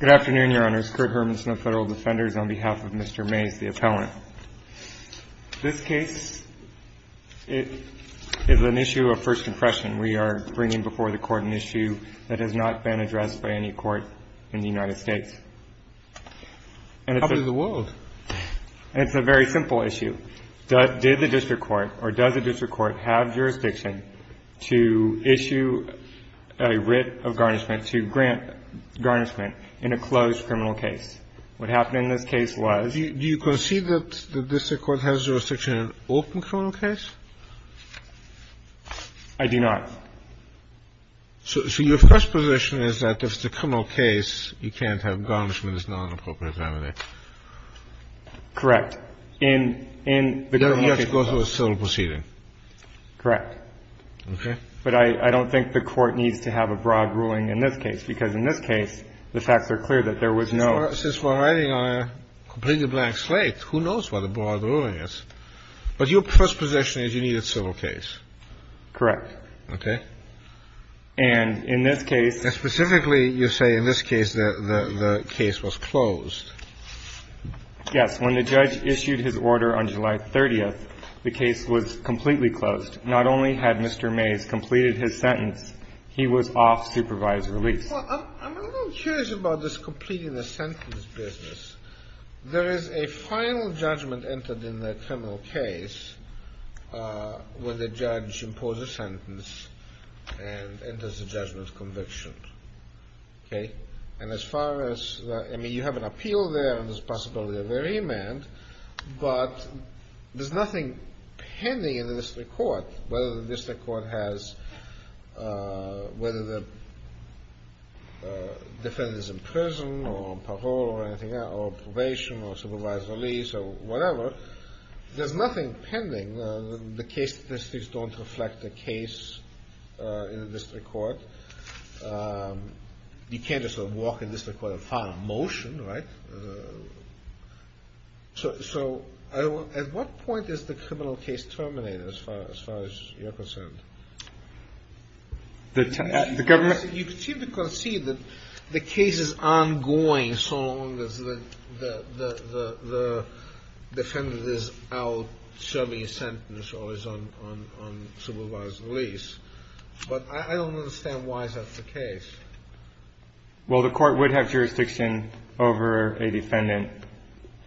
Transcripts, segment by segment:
Good afternoon, Your Honors. Kurt Hermanson of Federal Defenders on behalf of Mr. Mays, the appellant. This case is an issue of first impression. We are bringing before the Court an issue that has not been addressed by any Court in the United States. How does the world? It's a very simple issue. Did the district court or does the district court have jurisdiction to issue a writ of garnishment to grant garnishment in a closed criminal case? What happened in this case was? Do you concede that the district court has jurisdiction in an open criminal case? I do not. So your first position is that if it's a criminal case, you can't have garnishment as non-appropriate family? Correct. In the criminal case. You have to go through a civil proceeding. Correct. Okay. But I don't think the Court needs to have a broad ruling in this case, because in this case, the facts are clear that there was no. Since we're writing on a completely blank slate, who knows what a broad ruling is? But your first position is you need a civil case. Correct. Okay. And in this case. Specifically, you say in this case the case was closed. Yes. When the judge issued his order on July 30th, the case was completely closed. Not only had Mr. Mays completed his sentence, he was off supervised release. Well, I'm a little curious about this completing the sentence business. There is a final judgment entered in the criminal case when the judge imposes a sentence and enters a judgment conviction. Okay. And as far as, I mean, you have an appeal there and there's a possibility of a remand, but there's nothing pending in the District Court. Whether the District Court has, whether the defendant is in prison or parole or probation or supervised release or whatever, there's nothing pending. The case statistics don't reflect the case in the District Court. You can't just walk in the District Court and file a motion, right? So at what point is the criminal case terminated as far as you're concerned? The government. You seem to concede that the case is ongoing so long as the defendant is out serving a sentence or is on supervised release. But I don't understand why that's the case. Well, the Court would have jurisdiction over a defendant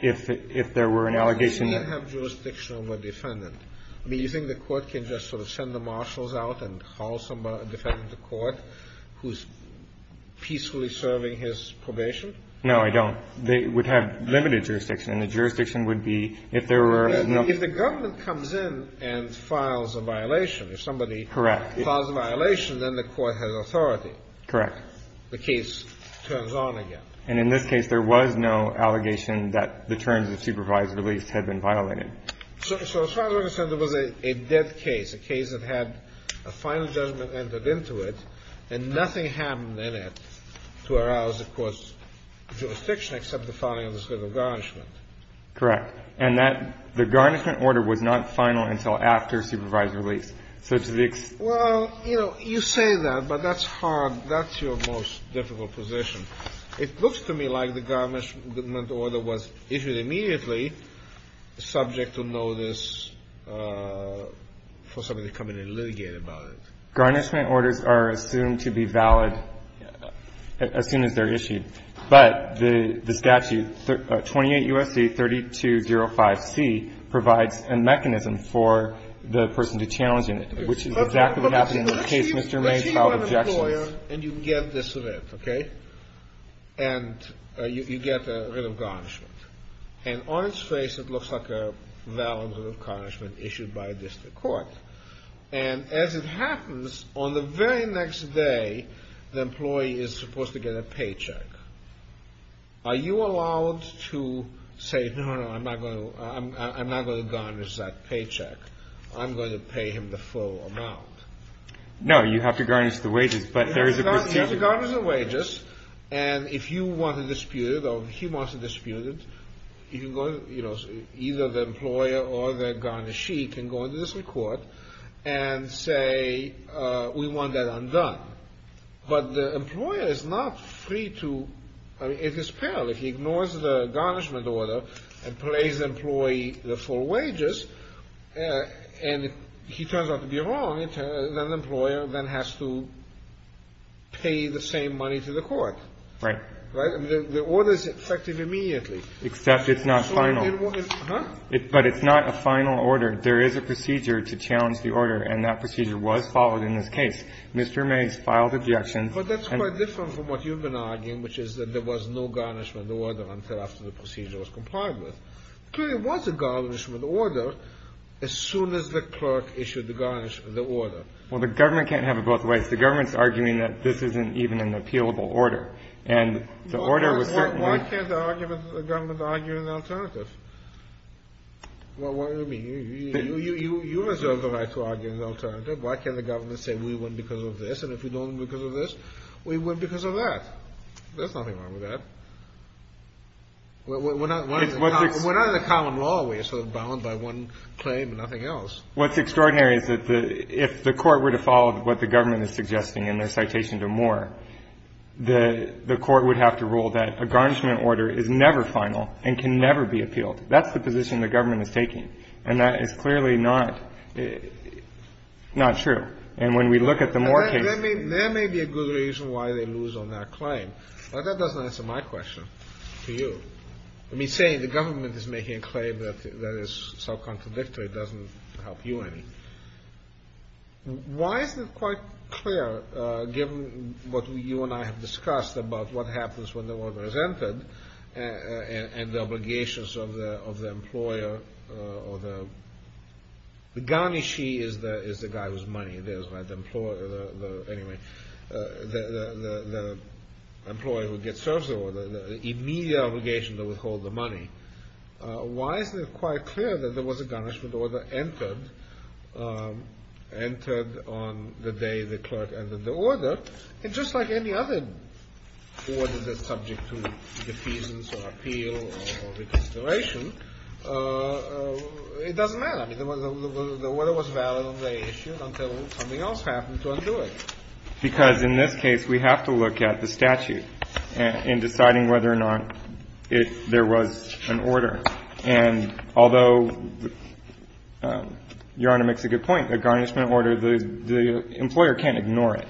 if there were an allegation. You can't have jurisdiction over a defendant. I mean, you think the Court can just sort of send the marshals out and call somebody, a defendant to court, who's peacefully serving his probation? No, I don't. They would have limited jurisdiction. The jurisdiction would be if there were no. If the government comes in and files a violation, if somebody files a violation, then the Court has authority. Correct. The case turns on again. And in this case, there was no allegation that the terms of supervised release had been violated. So as far as I'm concerned, it was a dead case, a case that had a final judgment entered into it, and nothing happened in it to arouse the Court's jurisdiction except the filing of the civil garnishment. Correct. And that the garnishment order was not final until after supervised release. Well, you know, you say that, but that's hard. That's your most difficult position. It looks to me like the garnishment order was issued immediately, subject to notice for somebody to come in and litigate about it. Garnishment orders are assumed to be valid as soon as they're issued. But the statute, 28 U.S.C. 3205C, provides a mechanism for the person to challenge it, which is exactly what happened in the case Mr. May filed objections. Let's say you're an employer, and you get this writ, okay? And you get a writ of garnishment. And on its face, it looks like a valid writ of garnishment issued by a district court. And as it happens, on the very next day, the employee is supposed to get a paycheck. Are you allowed to say, no, no, I'm not going to garnish that paycheck? I'm going to pay him the full amount. No, you have to garnish the wages, but there is a procedure. You have to garnish the wages, and if you want to dispute it or he wants to dispute it, either the employer or the garnishee can go into the district court and say, we want that undone. But the employer is not free to, I mean, it is perilous. He ignores the garnishment order and pays the employee the full wages, and if he turns out to be wrong, then the employer then has to pay the same money to the court. Right. Right? I mean, the order is effective immediately. Except it's not final. Huh? But it's not a final order. There is a procedure to challenge the order, and that procedure was followed in this case. Mr. Mays filed objection. But that's quite different from what you've been arguing, which is that there was no garnishment order until after the procedure was complied with. Clearly, there was a garnishment order as soon as the clerk issued the order. Well, the government can't have it both ways. The government's arguing that this isn't even an appealable order, and the order was certainly Why can't the government argue an alternative? What do you mean? You reserve the right to argue an alternative. Why can't the government say we win because of this, and if we don't win because of this, we win because of that? There's nothing wrong with that. We're not in a common law where you're sort of bound by one claim and nothing else. What's extraordinary is that if the Court were to follow what the government is suggesting in their citation to Moore, the Court would have to rule that a garnishment order is never final and can never be appealed. That's the position the government is taking, and that is clearly not true. And when we look at the Moore case — There may be a good reason why they lose on that claim, but that doesn't answer my question to you. I mean, saying the government is making a claim that is so contradictory doesn't help you any. Why is it quite clear, given what you and I have discussed about what happens when the order is entered, and the obligations of the employer or the — The garnishee is the guy with money. Anyway, the employee who gets served the order, the immediate obligation to withhold the money. Why is it quite clear that there was a garnishment order entered on the day the clerk entered the order? And just like any other order that's subject to defeasance or appeal or reconsideration, it doesn't matter. I mean, the order was valid on day issued until something else happened to undo it. Because in this case, we have to look at the statute in deciding whether or not there was an order. And although Your Honor makes a good point, a garnishment order, the employer can't ignore it.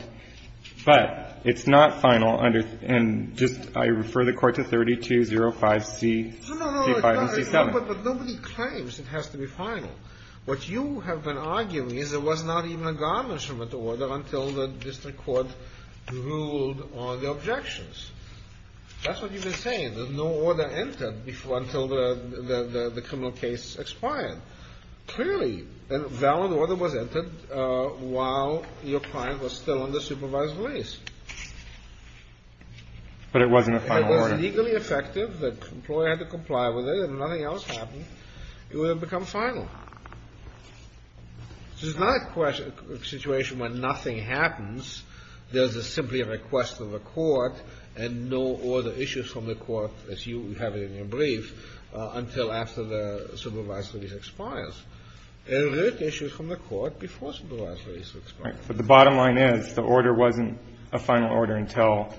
But it's not final under — and just — I refer the Court to 3205C — No, no, no. But nobody claims it has to be final. What you have been arguing is there was not even a garnishment order until the district court ruled on the objections. That's what you've been saying, that no order entered until the criminal case expired. Clearly, a valid order was entered while your client was still under supervised release. But it wasn't a final order. It was legally effective. The employer had to comply with it. If nothing else happened, it would have become final. This is not a situation where nothing happens. There's simply a request of the Court and no other issues from the Court, as you have it in your brief, until after the supervised release expires. There were issues from the Court before supervised release expired. But the bottom line is the order wasn't a final order until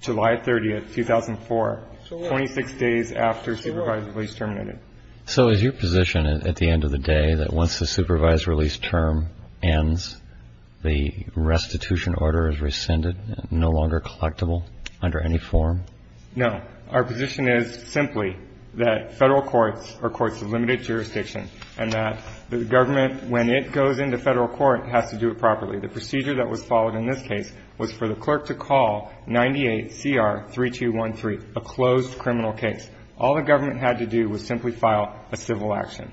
July 30th, 2004, 26 days after supervised release terminated. So is your position at the end of the day that once the supervised release term ends, the restitution order is rescinded, no longer collectible under any form? No. Our position is simply that Federal courts are courts of limited jurisdiction and that the government, when it goes into Federal court, has to do it properly. The procedure that was followed in this case was for the clerk to call 98CR3213, a closed criminal case. All the government had to do was simply file a civil action.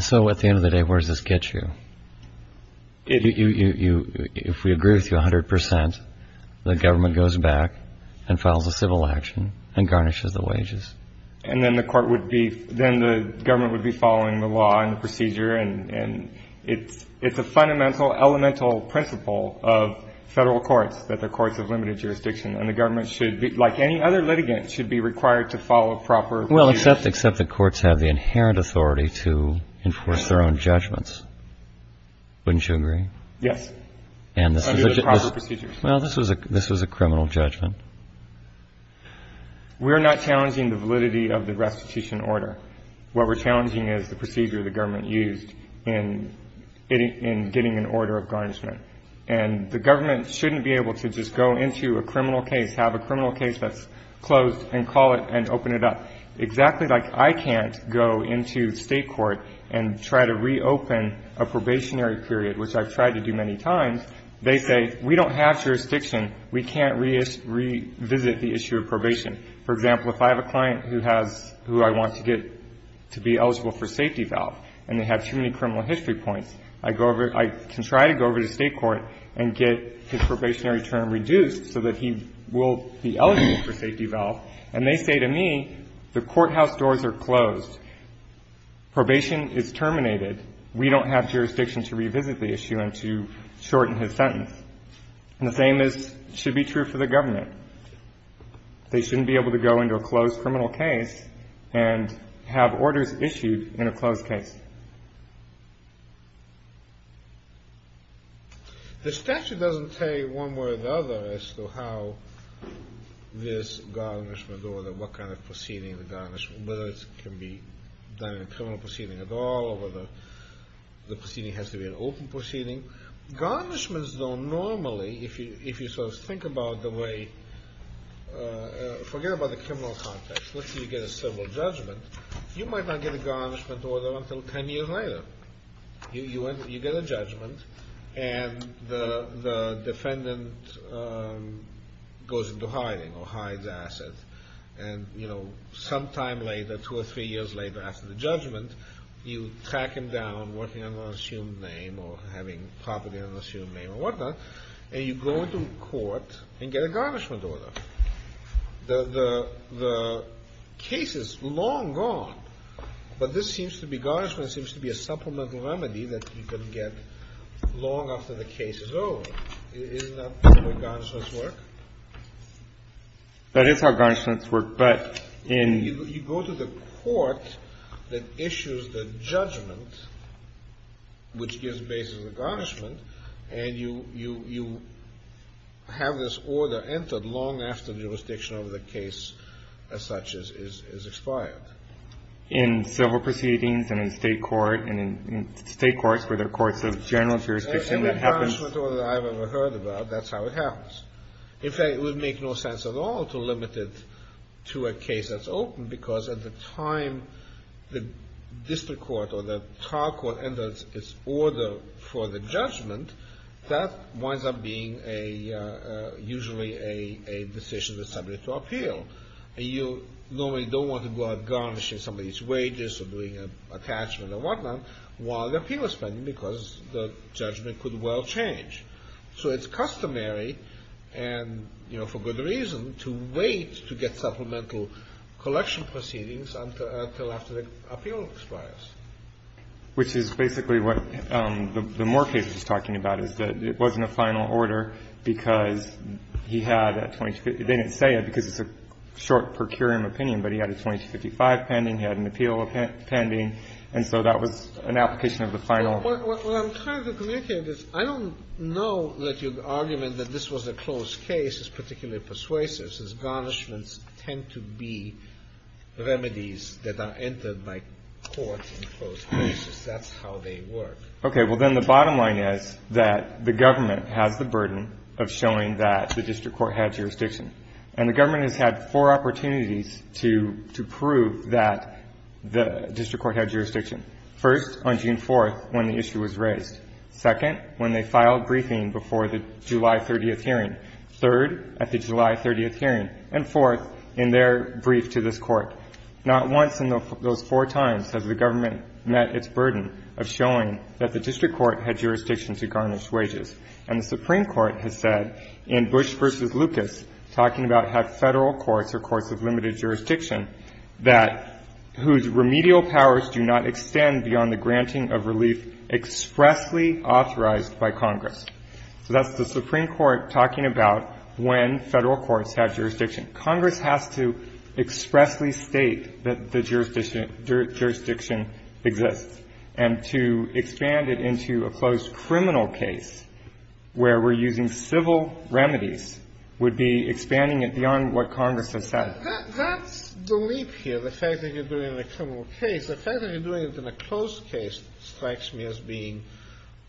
So at the end of the day, where does this get you? If we agree with you 100 percent, the government goes back and files a civil action and garnishes the wages. And then the court would be – then the government would be following the law and the procedure. And it's a fundamental, elemental principle of Federal courts that they're courts of limited jurisdiction. And the government should be – like any other litigant, should be required to follow proper procedures. Well, except the courts have the inherent authority to enforce their own judgments. Wouldn't you agree? Yes. Under the proper procedures. Well, this was a criminal judgment. We're not challenging the validity of the restitution order. What we're challenging is the procedure the government used in getting an order of garnishment. And the government shouldn't be able to just go into a criminal case, have a criminal case that's closed and call it and open it up. Exactly like I can't go into state court and try to reopen a probationary period, which I've tried to do many times, they say we don't have jurisdiction, we can't revisit the issue of probation. For example, if I have a client who has – who I want to get to be eligible for safety valve and they have too many criminal history points, I go over – I can try to go over to state court and get his probationary term reduced so that he will be eligible for safety valve. And they say to me, the courthouse doors are closed. Probation is terminated. We don't have jurisdiction to revisit the issue and to shorten his sentence. And the same should be true for the government. They shouldn't be able to go into a closed criminal case and have orders issued in a closed case. The statute doesn't say one way or the other as to how this garnishment, or what kind of proceeding the garnishment, whether it can be done in a criminal proceeding at all or whether the proceeding has to be an open proceeding. Garnishments, though, normally, if you sort of think about the way – forget about the criminal context. Let's say you get a civil judgment. You might not get a garnishment order until ten years later. You get a judgment and the defendant goes into hiding or hides assets. And, you know, sometime later, two or three years later after the judgment, you track him down working under an assumed name or having property under an assumed name or whatnot, and you go to court and get a garnishment order. The case is long gone, but this seems to be – garnishment seems to be a supplemental remedy that you can get long after the case is over. Isn't that the way garnishments work? That is how garnishments work. But in – You go to the court that issues the judgment, which gives basis to the garnishment, and you have this order entered long after the jurisdiction of the case as such is expired. In civil proceedings and in State courts, where there are courts of general jurisdiction, that happens – Every garnishment order that I've ever heard about, that's how it happens. In fact, it would make no sense at all to limit it to a case that's open, because at the time the district court or the trial court enters its order for the judgment, that winds up being usually a decision that's subject to appeal. You normally don't want to go out garnishing somebody's wages or doing an attachment or whatnot while the appeal is pending because the judgment could well change. So it's customary, and, you know, for good reason, to wait to get supplemental collection proceedings until after the appeal expires. Which is basically what the Moore case is talking about, is that it wasn't a final order because he had a – they didn't say it because it's a short per curiam opinion, but he had a 2255 pending, he had an appeal pending, and so that was an application of the final – Well, I'm trying to communicate this. I don't know that your argument that this was a closed case is particularly persuasive, since garnishments tend to be remedies that are entered by courts in closed cases. That's how they work. Okay. Well, then the bottom line is that the government has the burden of showing that the district court had jurisdiction. And the government has had four opportunities to prove that the district court had jurisdiction. First, on June 4th, when the issue was raised. Second, when they filed briefing before the July 30th hearing. Third, at the July 30th hearing. And fourth, in their brief to this Court. Not once in those four times has the government met its burden of showing that the district court had jurisdiction to garnish wages. And the Supreme Court has said in Bush v. Lucas, talking about how Federal courts are courts of limited jurisdiction, that whose remedial powers do not extend beyond the granting of relief expressly authorized by Congress. So that's the Supreme Court talking about when Federal courts have jurisdiction. Congress has to expressly state that the jurisdiction exists. And to expand it into a closed criminal case where we're using civil remedies would be expanding it beyond what Congress has said. That's the leap here. The fact that you're doing it in a criminal case. The fact that you're doing it in a closed case strikes me as being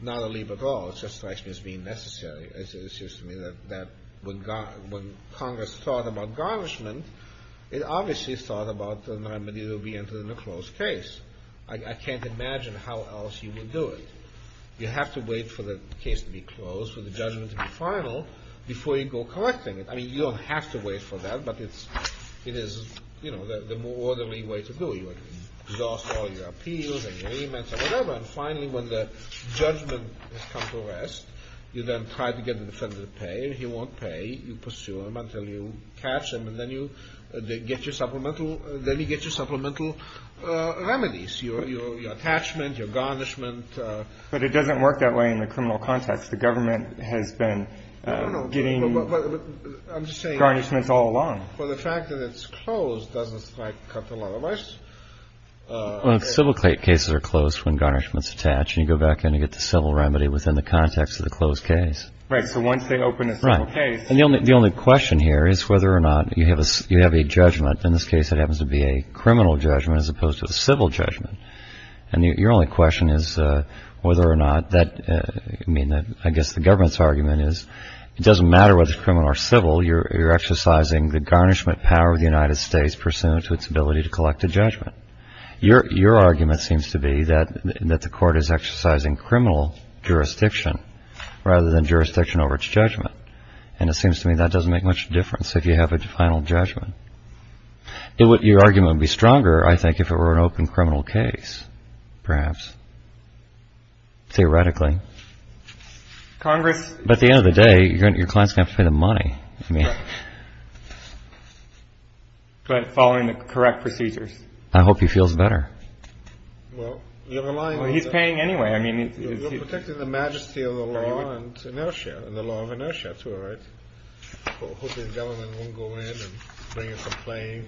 not a leap at all. It just strikes me as being necessary. It seems to me that when Congress thought about garnishment, it obviously thought about the remedy that would be entered in a closed case. I can't imagine how else you would do it. You have to wait for the case to be closed, for the judgment to be final, before you go collecting it. I mean, you don't have to wait for that, but it is, you know, the more orderly way to do it. You exhaust all your appeals and your amends and whatever, and finally when the judgment has come to rest, you then try to get the defendant to pay, and he won't pay. You pursue him until you catch him, and then you get your supplemental remedies, your attachment, your garnishment. But it doesn't work that way in the criminal context. The government has been getting garnishments all along. Well, the fact that it's closed doesn't strike a couple of us. Well, civil cases are closed when garnishments attach, and you go back in and get the civil remedy within the context of the closed case. Right. So once they open a civil case. Right. And the only question here is whether or not you have a judgment. In this case, it happens to be a criminal judgment as opposed to a civil judgment. And your only question is whether or not that, I mean, I guess the government's argument is it doesn't matter whether it's criminal or civil. You're exercising the garnishment power of the United States pursuant to its ability to collect a judgment. Your argument seems to be that the court is exercising criminal jurisdiction rather than jurisdiction over its judgment, and it seems to me that doesn't make much difference if you have a final judgment. Your argument would be stronger, I think, if it were an open criminal case, perhaps. Theoretically. Congress. But at the end of the day, your client's going to pay the money. But following the correct procedures. I hope he feels better. Well, he's paying anyway. I mean, you're protecting the majesty of the law and inertia and the law of inertia. That's all right. Hopefully the government won't go in and bring a complaint.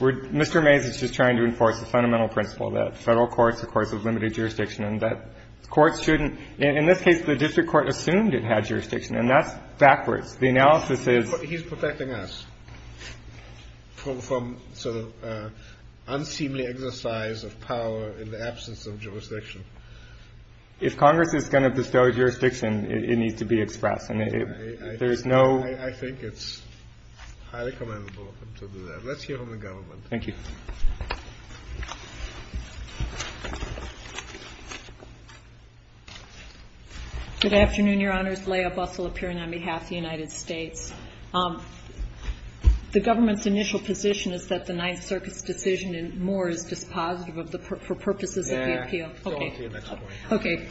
Mr. Mays is just trying to enforce the fundamental principle that Federal courts, of course, have limited jurisdiction and that courts shouldn't. In this case, the district court assumed it had jurisdiction, and that's backwards. The analysis is. He's protecting us from sort of unseemly exercise of power in the absence of jurisdiction. If Congress is going to bestow jurisdiction, it needs to be expressed. There's no. I think it's highly commendable to do that. Let's hear from the government. Thank you. Good afternoon, Your Honors. Leah Bussell appearing on behalf of the United States. The government's initial position is that the Ninth Circuit's decision in Moore is dispositive of the purposes of the appeal. Okay.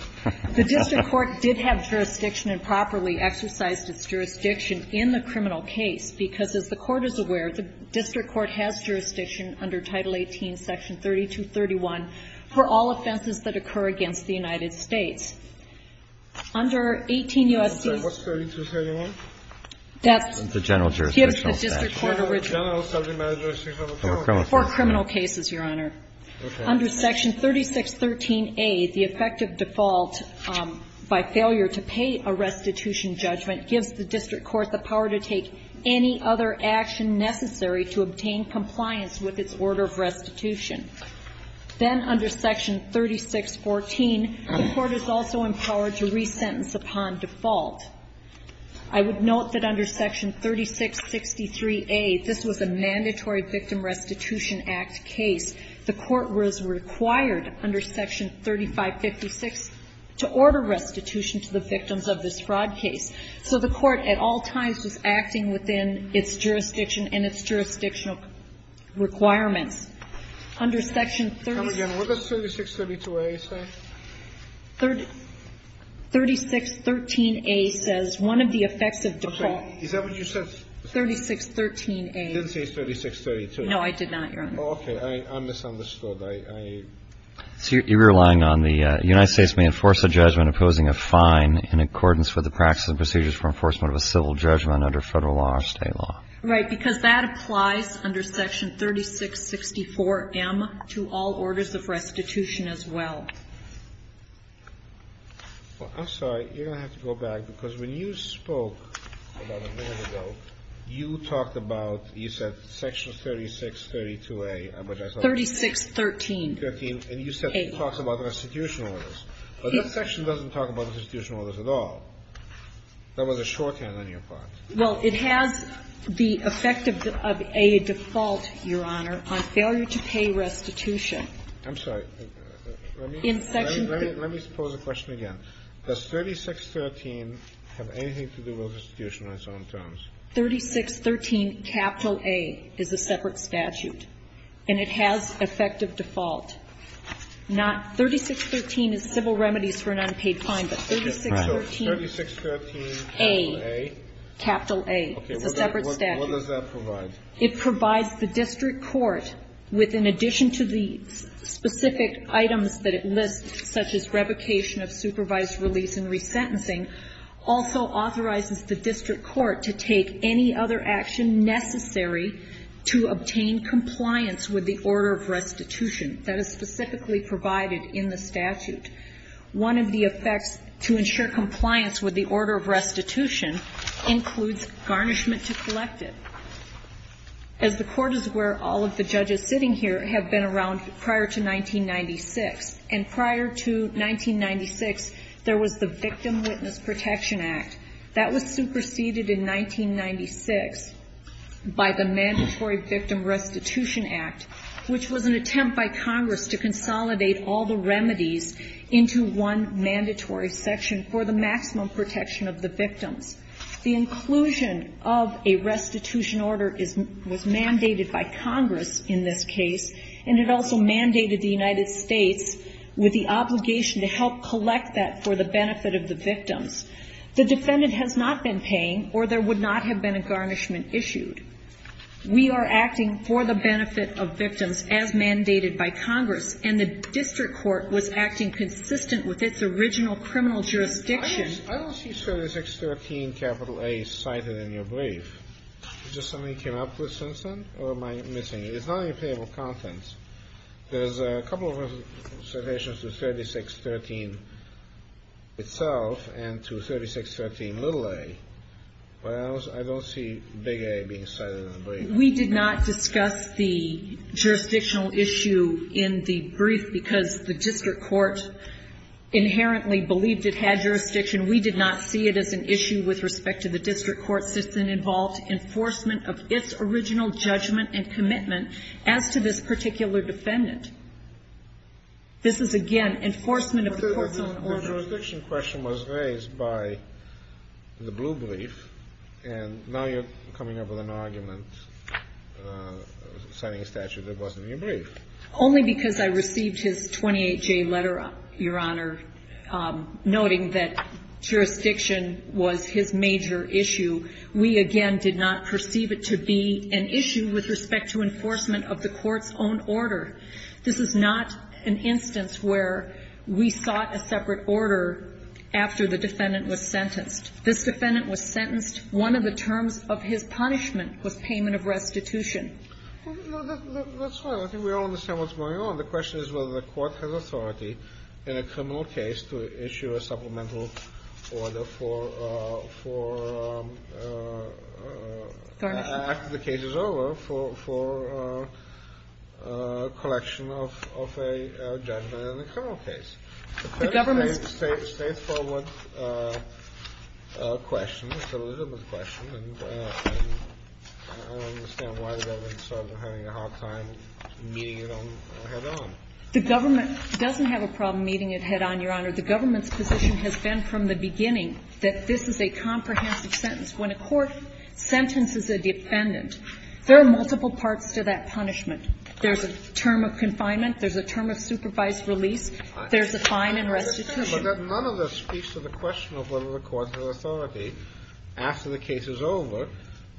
The district court did have jurisdiction and properly exercised its jurisdiction in the criminal case because, as the court is aware, the district court has jurisdiction under Title 18, Section 3231 for all offenses that occur against the United States. Under 18 U.S.C. What's 3231? That's. The general jurisdictional statute. General subject matter jurisdiction. For criminal cases, Your Honor. Okay. Under Section 3613A, the effective default by failure to pay a restitution judgment gives the district court the power to take any other action necessary to obtain compliance with its order of restitution. Then under Section 3614, the court is also empowered to resentence upon default. I would note that under Section 3663A, this was a mandatory Victim Restitution Act case. The court was required under Section 3556 to order restitution to the victims of this fraud case. So the court at all times was acting within its jurisdiction and its jurisdictional requirements. Under Section 36. Come again. What does 3632A say? 3613A says one of the effects of default. Okay. Is that what you said? 3613A. You didn't say 3632A. No, I did not, Your Honor. Okay. I misunderstood. I see you're relying on the United States may enforce a judgment opposing a fine in accordance with the practices and procedures for enforcement of a civil judgment under Federal law or State law. Right. Because that applies under Section 3664M to all orders of restitution as well. I'm sorry. You're going to have to go back, because when you spoke about a minute ago, you talked about, you said Section 3632A. 3613. And you said it talks about restitution orders. But that section doesn't talk about restitution orders at all. That was a shorthand on your part. Well, it has the effect of a default, Your Honor, on failure to pay restitution. I'm sorry. Let me pose a question again. Does 3613 have anything to do with restitution on its own terms? 3613A is a separate statute, and it has effective default. 3613 is civil remedies for an unpaid fine, but 3613A is a separate statute. What does that provide? It provides the district court with, in addition to the specific items that it lists, such as revocation of supervised release and resentencing, also authorizes the district court to take any other action necessary to obtain compliance with the order of restitution that is specifically provided in the statute. One of the effects to ensure compliance with the order of restitution includes garnishment to collective, as the court is where all of the judges sitting here have been around prior to 1996. And prior to 1996, there was the Victim Witness Protection Act. That was superseded in 1996 by the Mandatory Victim Restitution Act, which was an attempt by Congress to consolidate all the remedies into one mandatory section for the maximum protection of the victims. The inclusion of a restitution order was mandated by Congress in this case, and it also mandated the United States with the obligation to help collect that for the benefit of the victims. The defendant has not been paying or there would not have been a garnishment issued. We are acting for the benefit of victims as mandated by Congress, and the district court was acting consistent with its original criminal jurisdiction. I don't see 3613A cited in your brief. Is this something you came up with, Simpson, or am I missing it? It's not in your payable contents. There's a couple of citations to 3613 itself and to 3613a. But I don't see big A being cited in the brief. We did not discuss the jurisdictional issue in the brief because the district court inherently believed it had jurisdiction. We did not see it as an issue with respect to the district court system involved enforcement of its original judgment and commitment as to this particular defendant. This is, again, enforcement of the court's own order. But the jurisdiction question was raised by the blue brief, and now you're coming up with an argument citing a statute that wasn't in your brief. Only because I received his 28-J letter, Your Honor, noting that jurisdiction was his major issue. We, again, did not perceive it to be an issue with respect to enforcement of the court's own order. This is not an instance where we sought a separate order after the defendant was sentenced. This defendant was sentenced. One of the terms of his punishment was payment of restitution. That's right. I think we all understand what's going on. The question is whether the court has authority in a criminal case to issue a supplemental order for after the case is over for collection of a judgment in a criminal case. The government's question is a legitimate question, and I don't understand why the government started having a hard time meeting it head-on. The government doesn't have a problem meeting it head-on, Your Honor. The government's position has been from the beginning that this is a comprehensive sentence. When a court sentences a defendant, there are multiple parts to that punishment. There's a term of confinement. There's a term of supervised release. There's a fine and restitution. But none of this speaks to the question of whether the court has authority after the case is over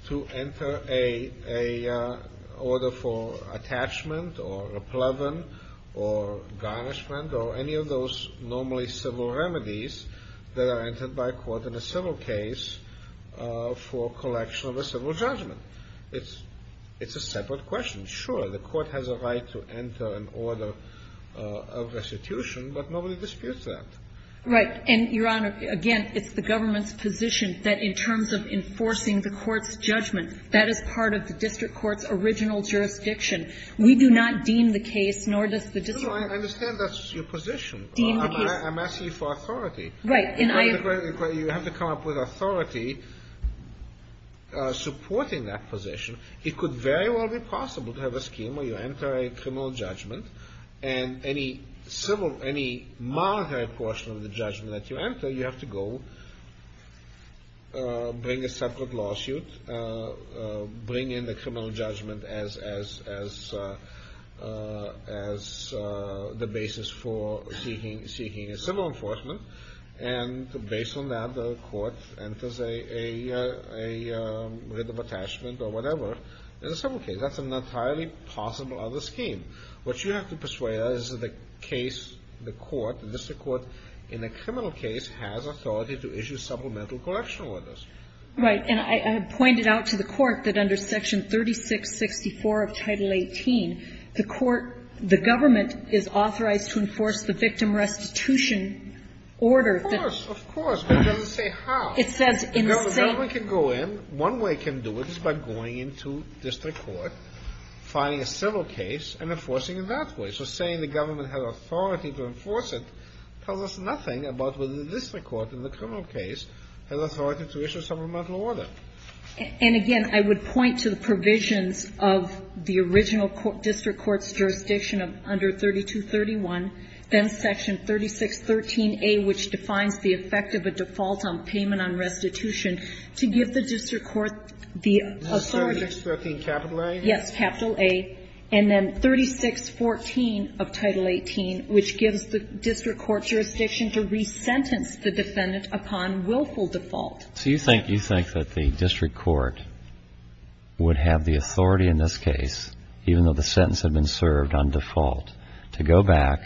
to enter a order for attachment or a pleban or garnishment or any of those normally civil remedies that are entered by a court in a civil case for collection of a civil judgment. It's a separate question. Sure, the court has a right to enter an order of restitution, but nobody disputes that. Right. And, Your Honor, again, it's the government's position that in terms of enforcing the court's judgment, that is part of the district court's original jurisdiction. We do not deem the case, nor does the district court. No, I understand that's your position. Deem the case. I'm asking you for authority. Right. You have to come up with authority supporting that position. It could very well be possible to have a scheme where you enter a criminal judgment and any monetary portion of the judgment that you enter, you have to go bring a separate lawsuit, bring in the criminal judgment as the basis for seeking a civil enforcement. And based on that, the court enters a writ of attachment or whatever in a civil case. That's an entirely possible other scheme. What you have to persuade us is that the case, the court, the district court in a criminal case has authority to issue supplemental correctional orders. Right. And I pointed out to the court that under Section 3664 of Title 18, the court, the government is authorized to enforce the victim restitution order. Of course. Of course. But it doesn't say how. It says in the same. No, the government can go in. One way it can do it is by going into district court, filing a civil case, and enforcing it that way. So saying the government has authority to enforce it tells us nothing about whether the district court in the criminal case has authority to issue a supplemental order. And again, I would point to the provisions of the original district court's jurisdiction of under 3231, then Section 3613a, which defines the effect of a default on payment on restitution, to give the district court the authority. 3613 capital A? Yes, capital A. And then 3614 of Title 18, which gives the district court's jurisdiction to resentence the defendant upon willful default. So you think that the district court would have the authority in this case, even though the sentence had been served on default, to go back,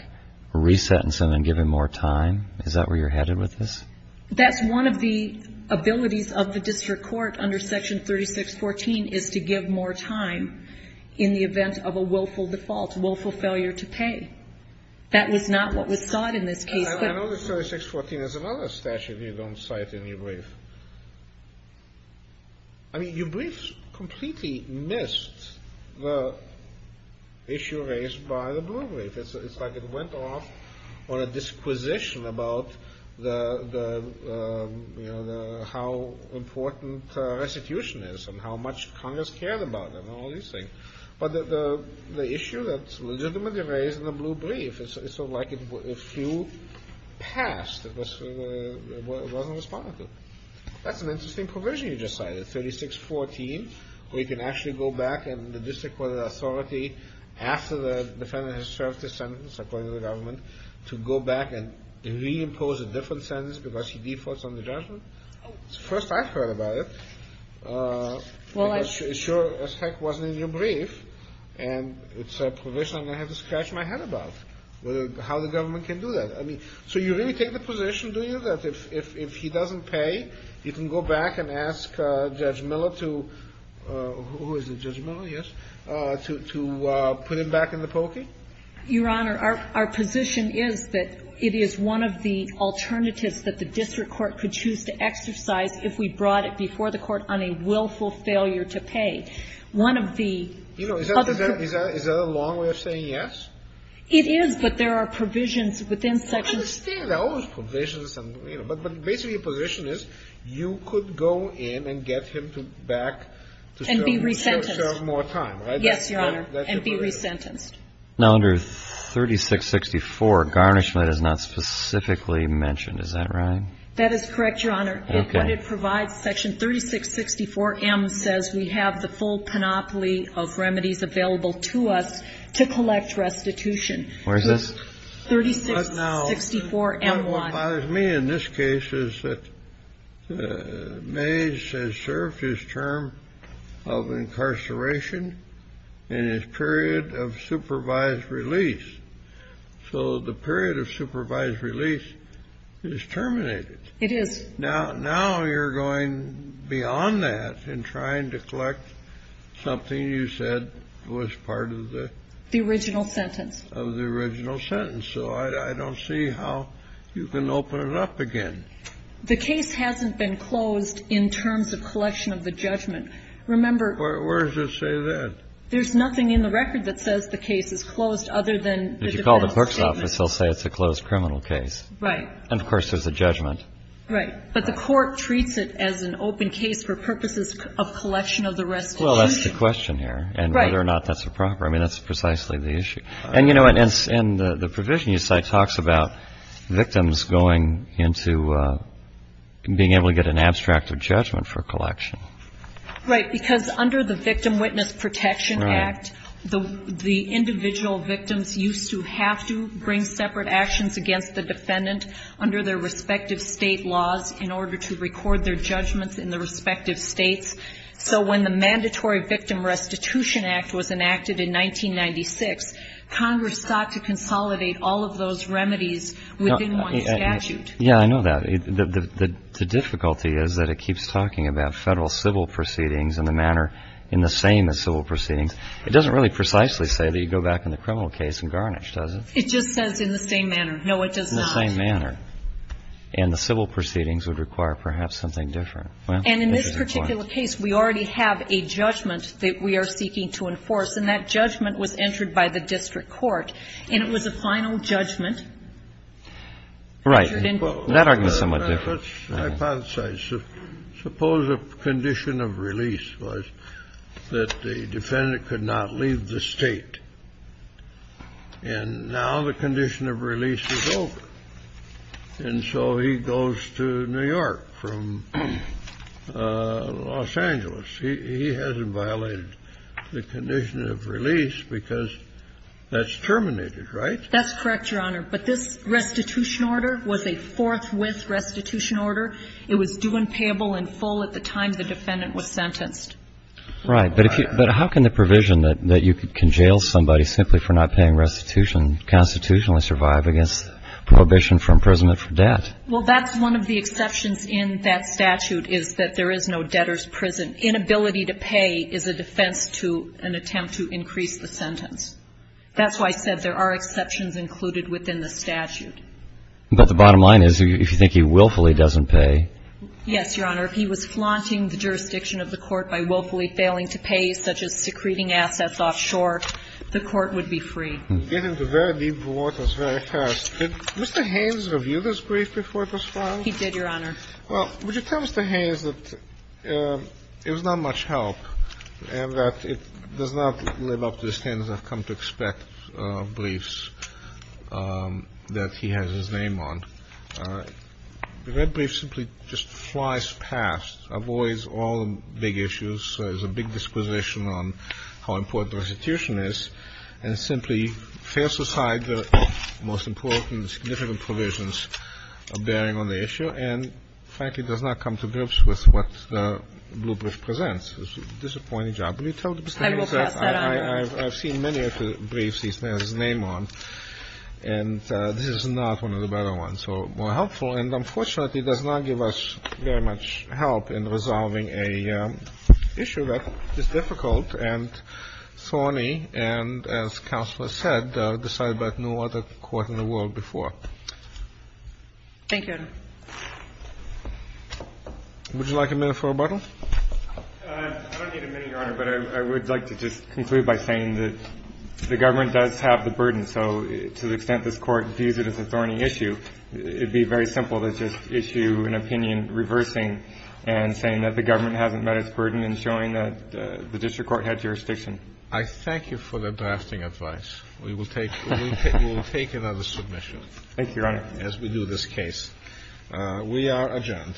resentence him, and give him more time? Is that where you're headed with this? That's one of the abilities of the district court under Section 3614, is to give more time in the event of a willful default, willful failure to pay. That was not what was sought in this case. I know that 3614 is another statute you don't cite in your brief. I mean, your brief completely missed the issue raised by the Blue Brief. It's like it went off on a disquisition about how important restitution is, and how much Congress cared about it, and all these things. But the issue that's legitimately raised in the Blue Brief, it's like a few passed, it wasn't responded to. That's an interesting provision you just cited, 3614, where you can actually go back and the district court authority, after the defendant has served his sentence, according to the government, to go back and reimpose a different sentence because he defaults on the judgment. First I heard about it. Because it sure as heck wasn't in your brief. And it's a provision I'm going to have to scratch my head about, how the government can do that. So you really take the position, do you, that if he doesn't pay, you can go back and ask Judge Miller to, who is it, Judge Miller, yes? To put him back in the pokey? Your Honor, our position is that it is one of the alternatives that the district court could choose to exercise if we brought it before the court on a willful failure to pay. One of the other provisions. You know, is that a long way of saying yes? It is, but there are provisions within sections. I understand there are always provisions, but basically your position is you could go in and get him back to serve more time, right? And be resentenced. Yes, Your Honor, and be resentenced. Now, under 3664, garnishment is not specifically mentioned. Is that right? That is correct, Your Honor. Okay. What it provides, section 3664M, says we have the full panoply of remedies available to us to collect restitution. Where is this? 3664. 3664M1. What bothers me in this case is that Mays has served his term of incarceration in his period of supervised release. So the period of supervised release is terminated. It is. Now you're going beyond that in trying to collect something you said was part of the... The original sentence. Of the original sentence. So I don't see how you can open it up again. The case hasn't been closed in terms of collection of the judgment. Remember... Where does it say that? There's nothing in the record that says the case is closed other than... If you call the clerk's office, they'll say it's a closed criminal case. Right. And, of course, there's a judgment. Right. But the court treats it as an open case for purposes of collection of the restitution. Well, that's the question here. Right. And whether or not that's a proper. I mean, that's precisely the issue. And, you know, in the provision you cite talks about victims going into being able to get an abstract of judgment for collection. Right. Because under the Victim Witness Protection Act... Right. The individual victims used to have to bring separate actions against the defendant under their respective State laws in order to record their judgments in their respective States. So when the Mandatory Victim Restitution Act was enacted in 1996, Congress sought to consolidate all of those remedies within one statute. Yeah, I know that. The difficulty is that it keeps talking about Federal civil proceedings in the manner in the same as civil proceedings. It doesn't really precisely say that you go back in the criminal case and garnish, does it? It just says in the same manner. No, it does not. In the same manner. And the civil proceedings would require perhaps something different. And in this particular case, we already have a judgment that we are seeking to enforce. And that judgment was entered by the district court. And it was a final judgment. Right. That argument is somewhat different. Let's hypothesize. Suppose a condition of release was that the defendant could not leave the State. And now the condition of release is over. And so he goes to New York from Los Angeles. He hasn't violated the condition of release because that's terminated, right? That's correct, Your Honor. But this restitution order was a forthwith restitution order. It was due and payable in full at the time the defendant was sentenced. Right. But how can the provision that you can jail somebody simply for not paying restitution constitutionally survive against prohibition from imprisonment for debt? Well, that's one of the exceptions in that statute is that there is no debtor's prison. Inability to pay is a defense to an attempt to increase the sentence. That's why I said there are exceptions included within the statute. But the bottom line is, if you think he willfully doesn't pay. Yes, Your Honor. If he was flaunting the jurisdiction of the court by willfully failing to pay, such as secreting assets offshore, the court would be free. And if he was not, he would not be able to get into very deep waters very fast. Did Mr. Haynes review this brief before it was filed? He did, Your Honor. Well, would you tell Mr. Haynes that it was not much help and that it does not live up to the standards that have come to expect briefs that he has his name on? The red brief simply just flies past, avoids all the big issues, is a big disposition on how important restitution is, and simply fails to cite the most important and significant provisions bearing on the issue and frankly does not come to grips with what the blue brief presents. It's a disappointing job. Will you tell Mr. Haynes that? I will pass that on. I've seen many of the briefs he has his name on, and this is not one of the better ones. So more helpful. And unfortunately, it does not give us very much help in resolving an issue that is difficult and thorny and, as Counselor said, decided by no other court in the world before. Thank you, Your Honor. Would you like a minute for rebuttal? I don't need a minute, Your Honor, but I would like to just conclude by saying that the government does have the burden. So to the extent this Court views it as a thorny issue, it would be very simple to just issue an opinion reversing and saying that the government hasn't met its burden and showing that the district court had jurisdiction. I thank you for the drafting advice. We will take another submission. Thank you, Your Honor. As we do this case. We are adjourned.